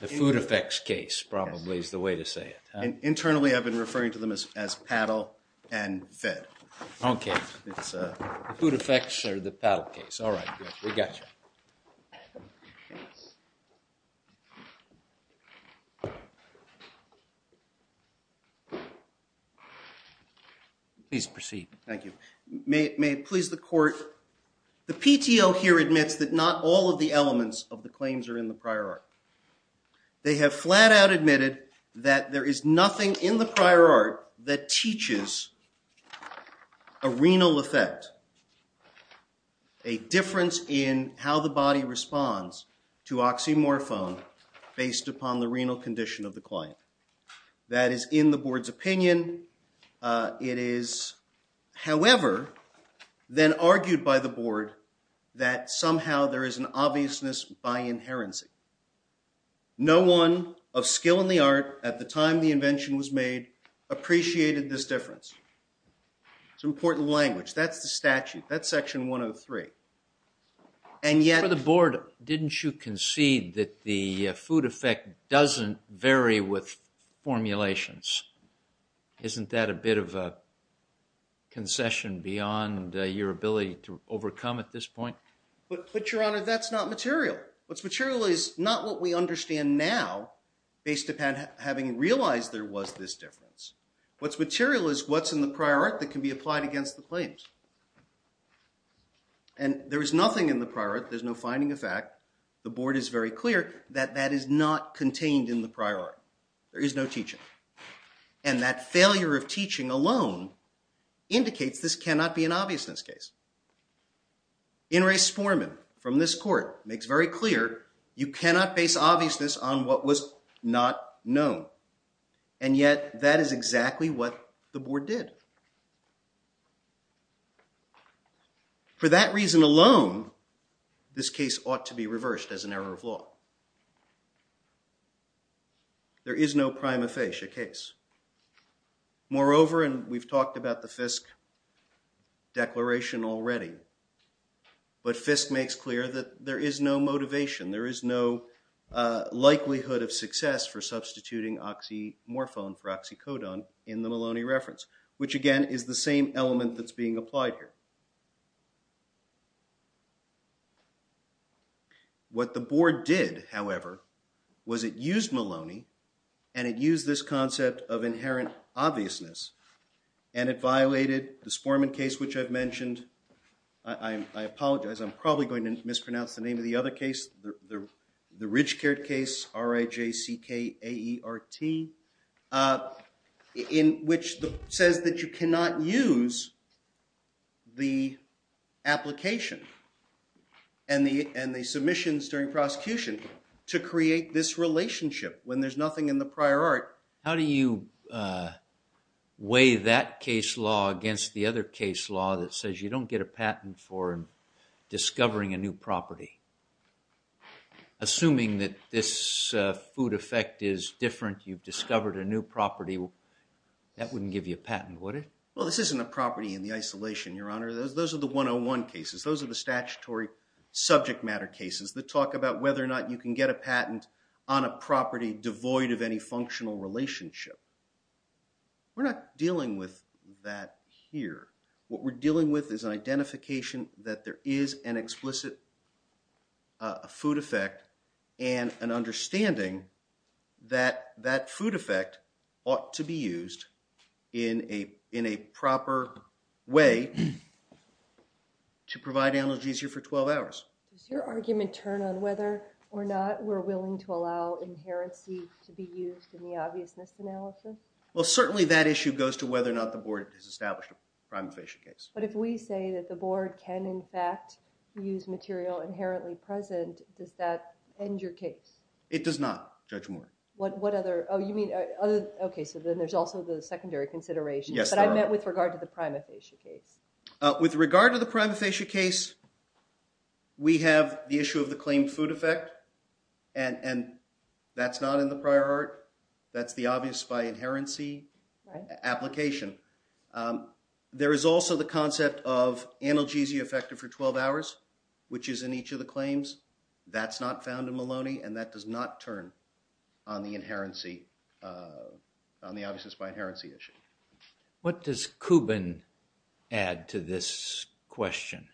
The food effects case, probably, is the way to say it. Internally, I've been referring to them as paddle and fed. Okay. The food effects or the paddle case. All right. We got you. Please proceed. Thank you. May it please the court. The PTO here admits that not all of the elements of the claims are in the prior art. They have flat out admitted that there is nothing in the prior art that teaches a renal effect. A difference in how the body responds to oxymorphone based upon the renal condition of the client. That is in the board's opinion. It is, however, then argued by the board that somehow there is an obviousness by inherency. No one of skill in the art at the time the invention was made appreciated this difference. It's an important language. That's the statute. That's section 103. For the board, didn't you concede that the food effect doesn't vary with formulations? Isn't that a bit of a concession beyond your ability to overcome at this point? But, your honor, that's not material. What's material is not what we understand now based upon having realized there was this difference. What's material is what's in the prior art that can be applied against the claims. And there is nothing in the prior art. There's no finding of fact. The board is very clear that that is not contained in the prior art. There is no teaching. And that failure of teaching alone indicates this cannot be an obviousness case. In re sporemem, from this court, makes very clear you cannot base obviousness on what was not known. And yet, that is exactly what the board did. For that reason alone, this case ought to be reversed as an error of law. There is no prima facie case. Moreover, and we've talked about the Fisk declaration already, but Fisk makes clear that there is no motivation. There is no likelihood of success for substituting oxymorphone for oxycodone in the Maloney reference, which again is the same element that's being applied here. What the board did, however, was it used Maloney and it used this concept of inherent obviousness and it violated the sporemem case which I've mentioned. I apologize. I'm probably going to mispronounce the name of the other case. The Ridgecord case, R-I-J-C-K-A-E-R-T, in which it says that you cannot use the application and the submissions during prosecution to create this relationship when there's nothing in the prior art. How do you weigh that case law against the other case law that says you don't get a patent for discovering a new property? Assuming that this food effect is different, you've discovered a new property, that wouldn't give you a patent, would it? Well, this isn't a property in the isolation, Your Honor. Those are the 101 cases. Those are the statutory subject matter cases that talk about whether or not you can get a patent on a property devoid of any functional relationship. We're not dealing with that here. What we're dealing with is an identification that there is an explicit food effect and an understanding that that food effect ought to be used in a proper way to provide analogies here for 12 hours. Does your argument turn on whether or not we're willing to allow inherency to be used in the obviousness analysis? Well, certainly that issue goes to whether or not the Board has established a prima facie case. But if we say that the Board can, in fact, use material inherently present, does that end your case? It does not, Judge Moore. What other? Oh, you mean other? Okay, so then there's also the secondary consideration. Yes, Your Honor. But I meant with regard to the prima facie case. With regard to the prima facie case, we have the issue of the claimed food effect, and that's not in the prior art. That's the obvious by inherency application. There is also the concept of analgesia effective for 12 hours, which is in each of the claims. That's not found in Maloney, and that does not turn on the obviousness by inherency issue. What does Kubin add to this question?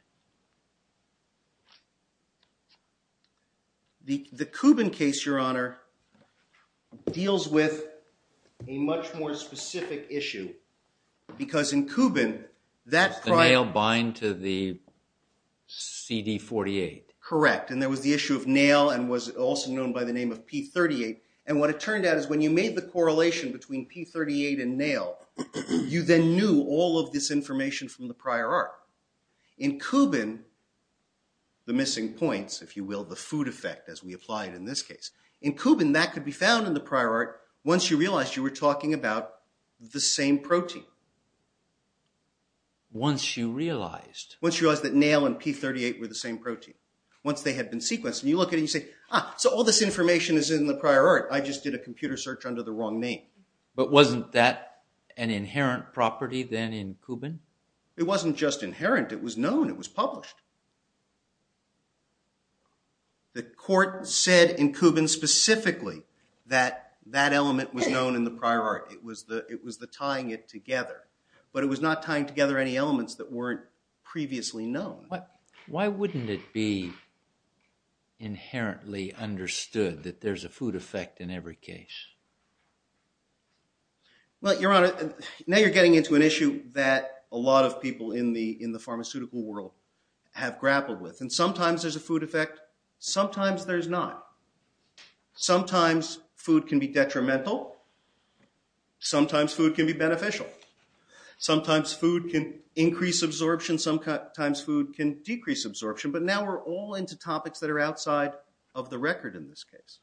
The Kubin case, Your Honor, deals with a much more specific issue, because in Kubin that prior... Does the nail bind to the CD-48? Correct, and there was the issue of nail and was also known by the name of P-38. And what it turned out is when you made the correlation between P-38 and nail, you then knew all of this information from the prior art. In Kubin, the missing points, if you will, the food effect as we apply it in this case, in Kubin that could be found in the prior art once you realized you were talking about the same protein. Once you realized? Once you realized that nail and P-38 were the same protein. Once they had been sequenced, you look at it and you say, ah, so all this information is in the prior art. I just did a computer search under the wrong name. But wasn't that an inherent property then in Kubin? It wasn't just inherent. It was known. It was published. The court said in Kubin specifically that that element was known in the prior art. It was the tying it together. But it was not tying together any elements that weren't previously known. Why wouldn't it be inherently understood that there's a food effect in every case? Well, Your Honor, now you're getting into an issue that a lot of people in the pharmaceutical world have grappled with. And sometimes there's a food effect, sometimes there's not. Sometimes food can be detrimental. Sometimes food can be beneficial. Sometimes food can increase absorption. Sometimes food can decrease absorption. But now we're all into topics that are outside of the record in this case.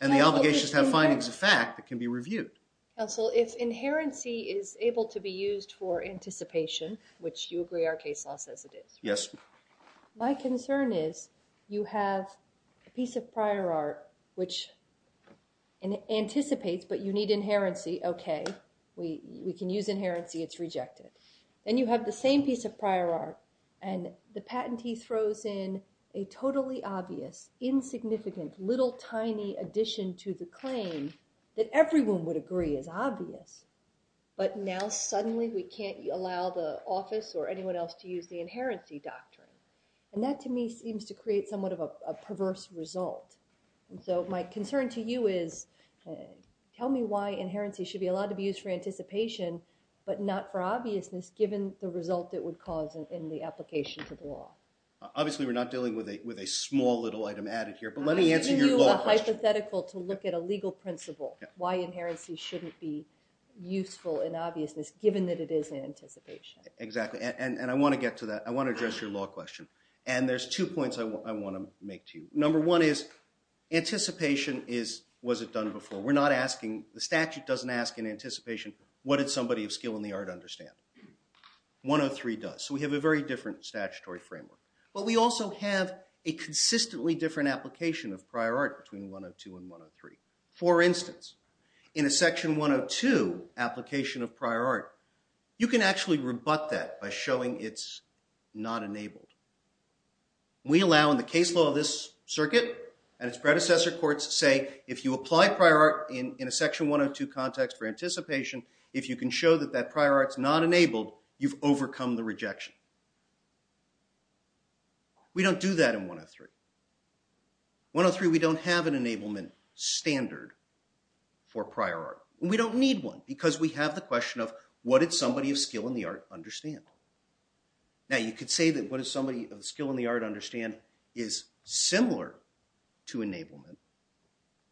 And the obligations have findings of fact that can be reviewed. Counsel, if inherency is able to be used for anticipation, which you agree our case law says it is. Yes. My concern is you have a piece of prior art which anticipates, but you need inherency. Okay. We can use inherency. It's rejected. And you have the same piece of prior art. And the patentee throws in a totally obvious, insignificant, little tiny addition to the claim that everyone would agree is obvious. But now suddenly we can't allow the office or anyone else to use the inherency doctrine. And that to me seems to create somewhat of a perverse result. And so my concern to you is tell me why inherency should be allowed to be used for anticipation, but not for obviousness given the result it would cause in the application to the law. Obviously we're not dealing with a small little item added here. But let me answer your law question. I'm giving you a hypothetical to look at a legal principle. Why inherency shouldn't be useful in obviousness given that it is in anticipation. Exactly. And I want to get to that. I want to address your law question. And there's two points I want to make to you. Number one is anticipation is, was it done before? We're not asking, the statute doesn't ask in anticipation, what did somebody of skill in the art understand? 103 does. So we have a very different statutory framework. But we also have a consistently different application of prior art between 102 and 103. For instance, in a section 102 application of prior art, you can actually rebut that by showing it's not enabled. We allow in the case law of this circuit and its predecessor courts say, if you apply prior art in a section 102 context for anticipation, if you can show that that prior art's not enabled, you've overcome the rejection. We don't do that in 103. 103, we don't have an enablement standard for prior art. We don't need one because we have the question of, what did somebody of skill in the art understand? Now, you could say that what did somebody of skill in the art understand is similar to enablement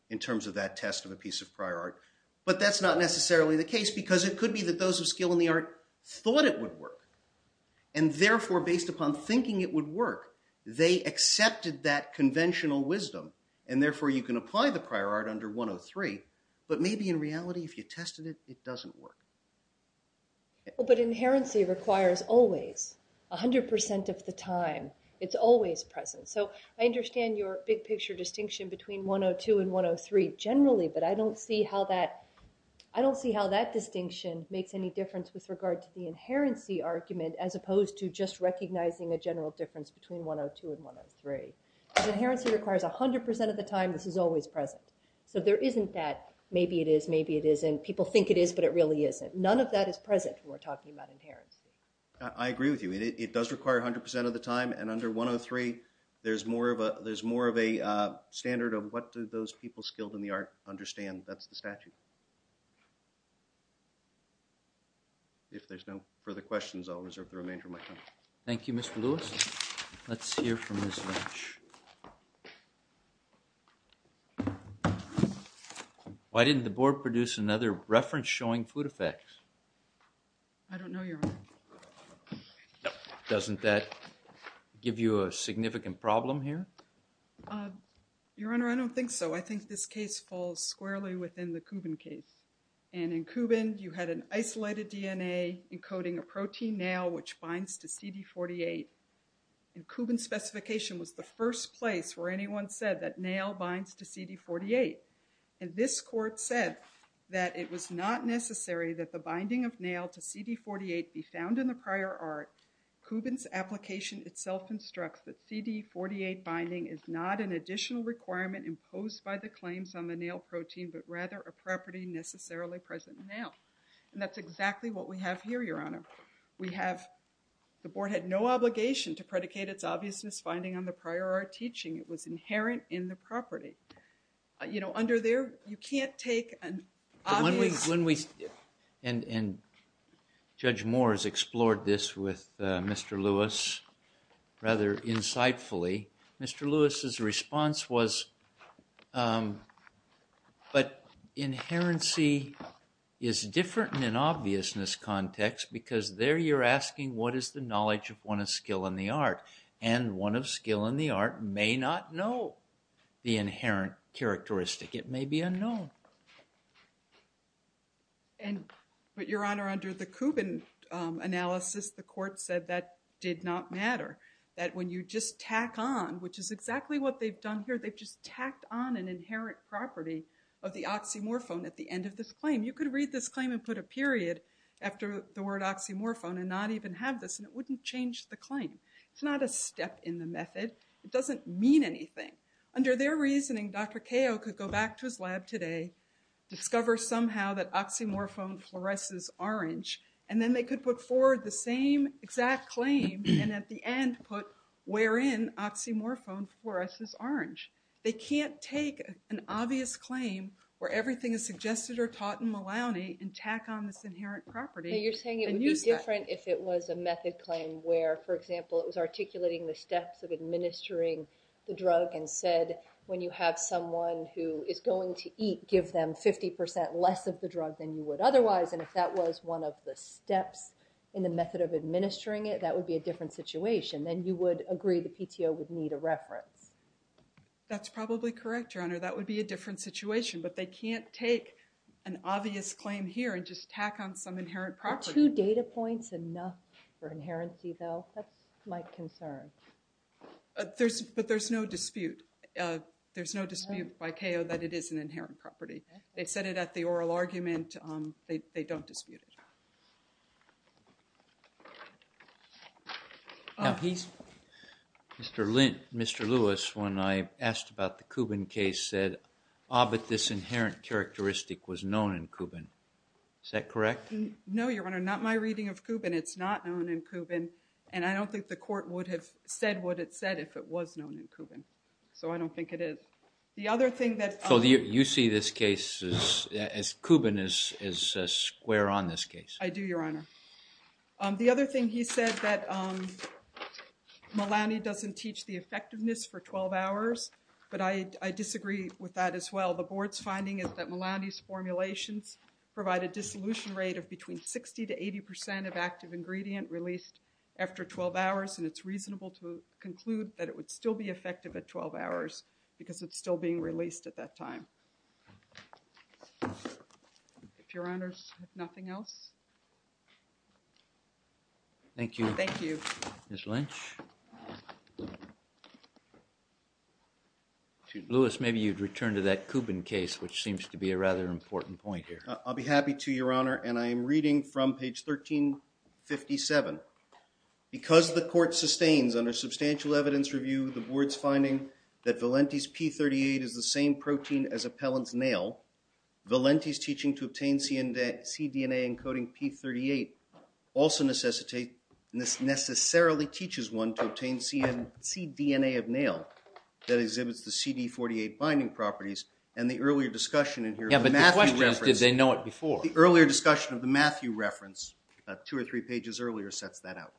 in terms of that test of a piece of prior art. But that's not necessarily the case because it could be that those of skill in the art thought it would work. And therefore, based upon thinking it would work, they accepted that conventional wisdom. And therefore, you can apply the prior art under 103. But maybe in reality, if you tested it, it doesn't work. But inherency requires always, 100% of the time, it's always present. So I understand your big picture distinction between 102 and 103 generally, but I don't see how that distinction makes any difference with regard to the inherency argument as opposed to just recognizing a general difference between 102 and 103. Inherency requires 100% of the time this is always present. So there isn't that maybe it is, maybe it isn't. People think it is, but it really isn't. None of that is present when we're talking about inherency. I agree with you. It does require 100% of the time. And under 103, there's more of a standard of what do those people skilled in the art understand. That's the statute. If there's no further questions, I'll reserve the remainder of my time. Thank you, Mr. Lewis. Let's hear from Ms. Lynch. Ms. Lynch. Why didn't the board produce another reference showing food effects? I don't know, Your Honor. Doesn't that give you a significant problem here? Your Honor, I don't think so. I think this case falls squarely within the Kubin case. And in Kubin, you had an isolated DNA encoding a protein now which binds to CD48. And Kubin specification was the first place where anyone said that nail binds to CD48. And this court said that it was not necessary that the binding of nail to CD48 be found in the prior art. Kubin's application itself instructs that CD48 binding is not an additional requirement imposed by the claims on the nail protein, but rather a property necessarily present in the nail. And that's exactly what we have here, Your Honor. We have, the board had no obligation to predicate its obviousness finding on the prior art teaching. It was inherent in the property. You know, under there, you can't take an obvious... When we, and Judge Moore has explored this with Mr. Lewis rather insightfully. Mr. Lewis' response was, but inherency is different in an obviousness context, because there you're asking what is the knowledge of one of skill in the art. And one of skill in the art may not know the inherent characteristic. It may be unknown. And, but Your Honor, under the Kubin analysis, the court said that did not matter. That when you just tack on, which is exactly what they've done here, they've just tacked on an inherent property of the oxymorphone at the end of this claim. You could read this claim and put a period after the word oxymorphone and not even have this, and it wouldn't change the claim. It's not a step in the method. It doesn't mean anything. Under their reasoning, Dr. Kao could go back to his lab today, discover somehow that oxymorphone fluoresces orange, and then they could put forward the same exact claim, and at the end put wherein oxymorphone fluoresces orange. They can't take an obvious claim where everything is suggested or taught in Malowney and tack on this inherent property and use that. You're saying it would be different if it was a method claim where, for example, it was articulating the steps of administering the drug and said when you have someone who is going to eat, give them 50% less of the drug than you would otherwise, and if that was one of the steps in the method of administering it, that would be a different situation. Then you would agree the PTO would need a reference. That's probably correct, Your Honor. That would be a different situation, but they can't take an obvious claim here and just tack on some inherent property. Are two data points enough for inherency, though? That's my concern. But there's no dispute. There's no dispute by Kao that it is an inherent property. They said it at the oral argument. They don't dispute it. Mr. Lewis, when I asked about the Kubin case, said, ah, but this inherent characteristic was known in Kubin. Is that correct? No, Your Honor, not my reading of Kubin. It's not known in Kubin, and I don't think the court would have said what it said if it was known in Kubin. So I don't think it is. So you see this case as Kubin is square on this case? I do, Your Honor. The other thing he said that Malani doesn't teach the effectiveness for 12 hours, but I disagree with that as well. The board's finding is that Malani's formulations provide a dissolution rate of between 60 to 80 percent of active ingredient released after 12 hours, and it's reasonable to conclude that it would still be effective at 12 hours because it's still being released at that time. If Your Honors have nothing else. Thank you. Thank you. Ms. Lynch? Lewis, maybe you'd return to that Kubin case, which seems to be a rather important point here. I'll be happy to, Your Honor, and I am reading from page 1357. Because the court sustains under substantial evidence review the board's finding that Valenti's P38 is the same protein as a pellet's nail, Valenti's teaching to obtain cDNA encoding P38 also necessarily teaches one to obtain cDNA of nail that exhibits the CD48 binding properties, and the earlier discussion in here. Yeah, but the question is, did they know it before? The earlier discussion of the Matthew reference, two or three pages earlier, sets that out.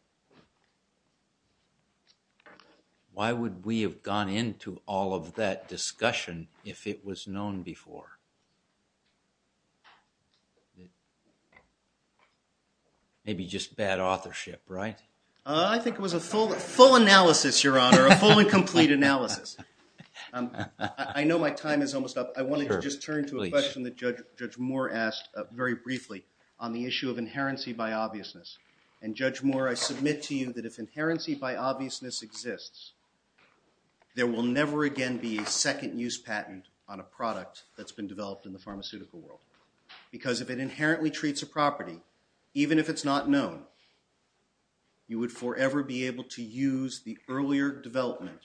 Why would we have gone into all of that discussion if it was known before? Maybe just bad authorship, right? I think it was a full analysis, Your Honor, a full and complete analysis. I know my time is almost up. I wanted to just turn to a question that Judge Moore asked very briefly on the issue of inherency by obviousness. And Judge Moore, I submit to you that if inherency by obviousness exists, there will never again be a second use patent on a product that's been developed in the pharmaceutical world. Because if it inherently treats a property, even if it's not known, you would forever be able to use the earlier development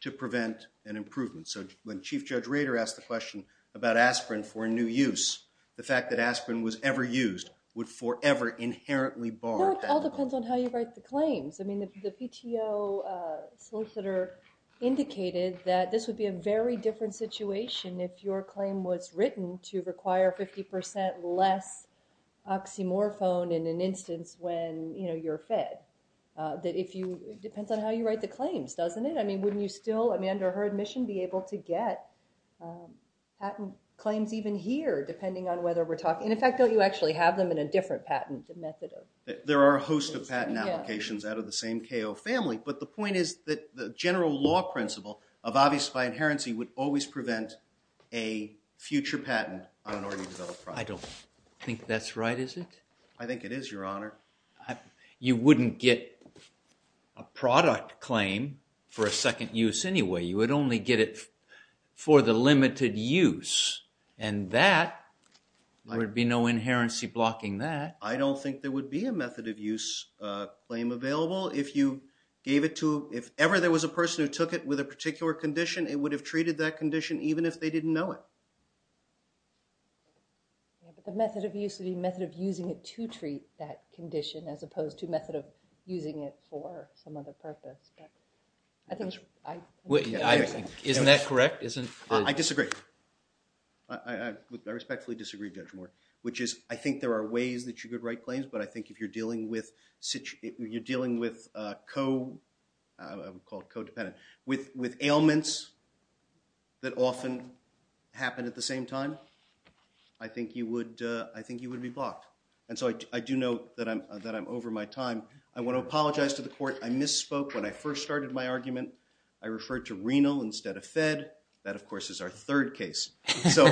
to prevent an improvement. So when Chief Judge Rader asked the question about aspirin for a new use, the fact that aspirin was ever used would forever inherently bar patentable. No, it all depends on how you write the claims. I mean, the PTO solicitor indicated that this would be a very different situation if your claim was written to require 50 percent less oxymorphone in an instance when you're fed. It depends on how you write the claims, doesn't it? I mean, wouldn't you still, under her admission, be able to get patent claims even here, depending on whether we're talking – and in fact, don't you actually have them in a different patent method? There are a host of patent applications out of the same KO family. But the point is that the general law principle of obvious by inherency would always prevent a future patent on an already developed product. I don't think that's right, is it? I think it is, Your Honor. You wouldn't get a product claim for a second use anyway. You would only get it for the limited use. And that would be no inherency blocking that. I don't think there would be a method of use claim available if you gave it to – if ever there was a person who took it with a particular condition, it would have treated that condition even if they didn't know it. But the method of use would be a method of using it to treat that condition as opposed to a method of using it for some other purpose. I think – Isn't that correct? I disagree. I respectfully disagree, Judge Moore. Which is, I think there are ways that you could write claims, but I think if you're dealing with – you're dealing with co – I would call it co-dependent – with ailments that often happen at the same time, I think you would be blocked. And so I do know that I'm over my time. I want to apologize to the Court. I misspoke when I first started my argument. I referred to renal instead of fed. That, of course, is our third case. So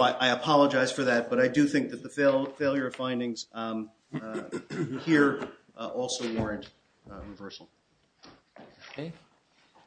I apologize for that, but I do think that the failure of findings here also warrant reversal. Thank you.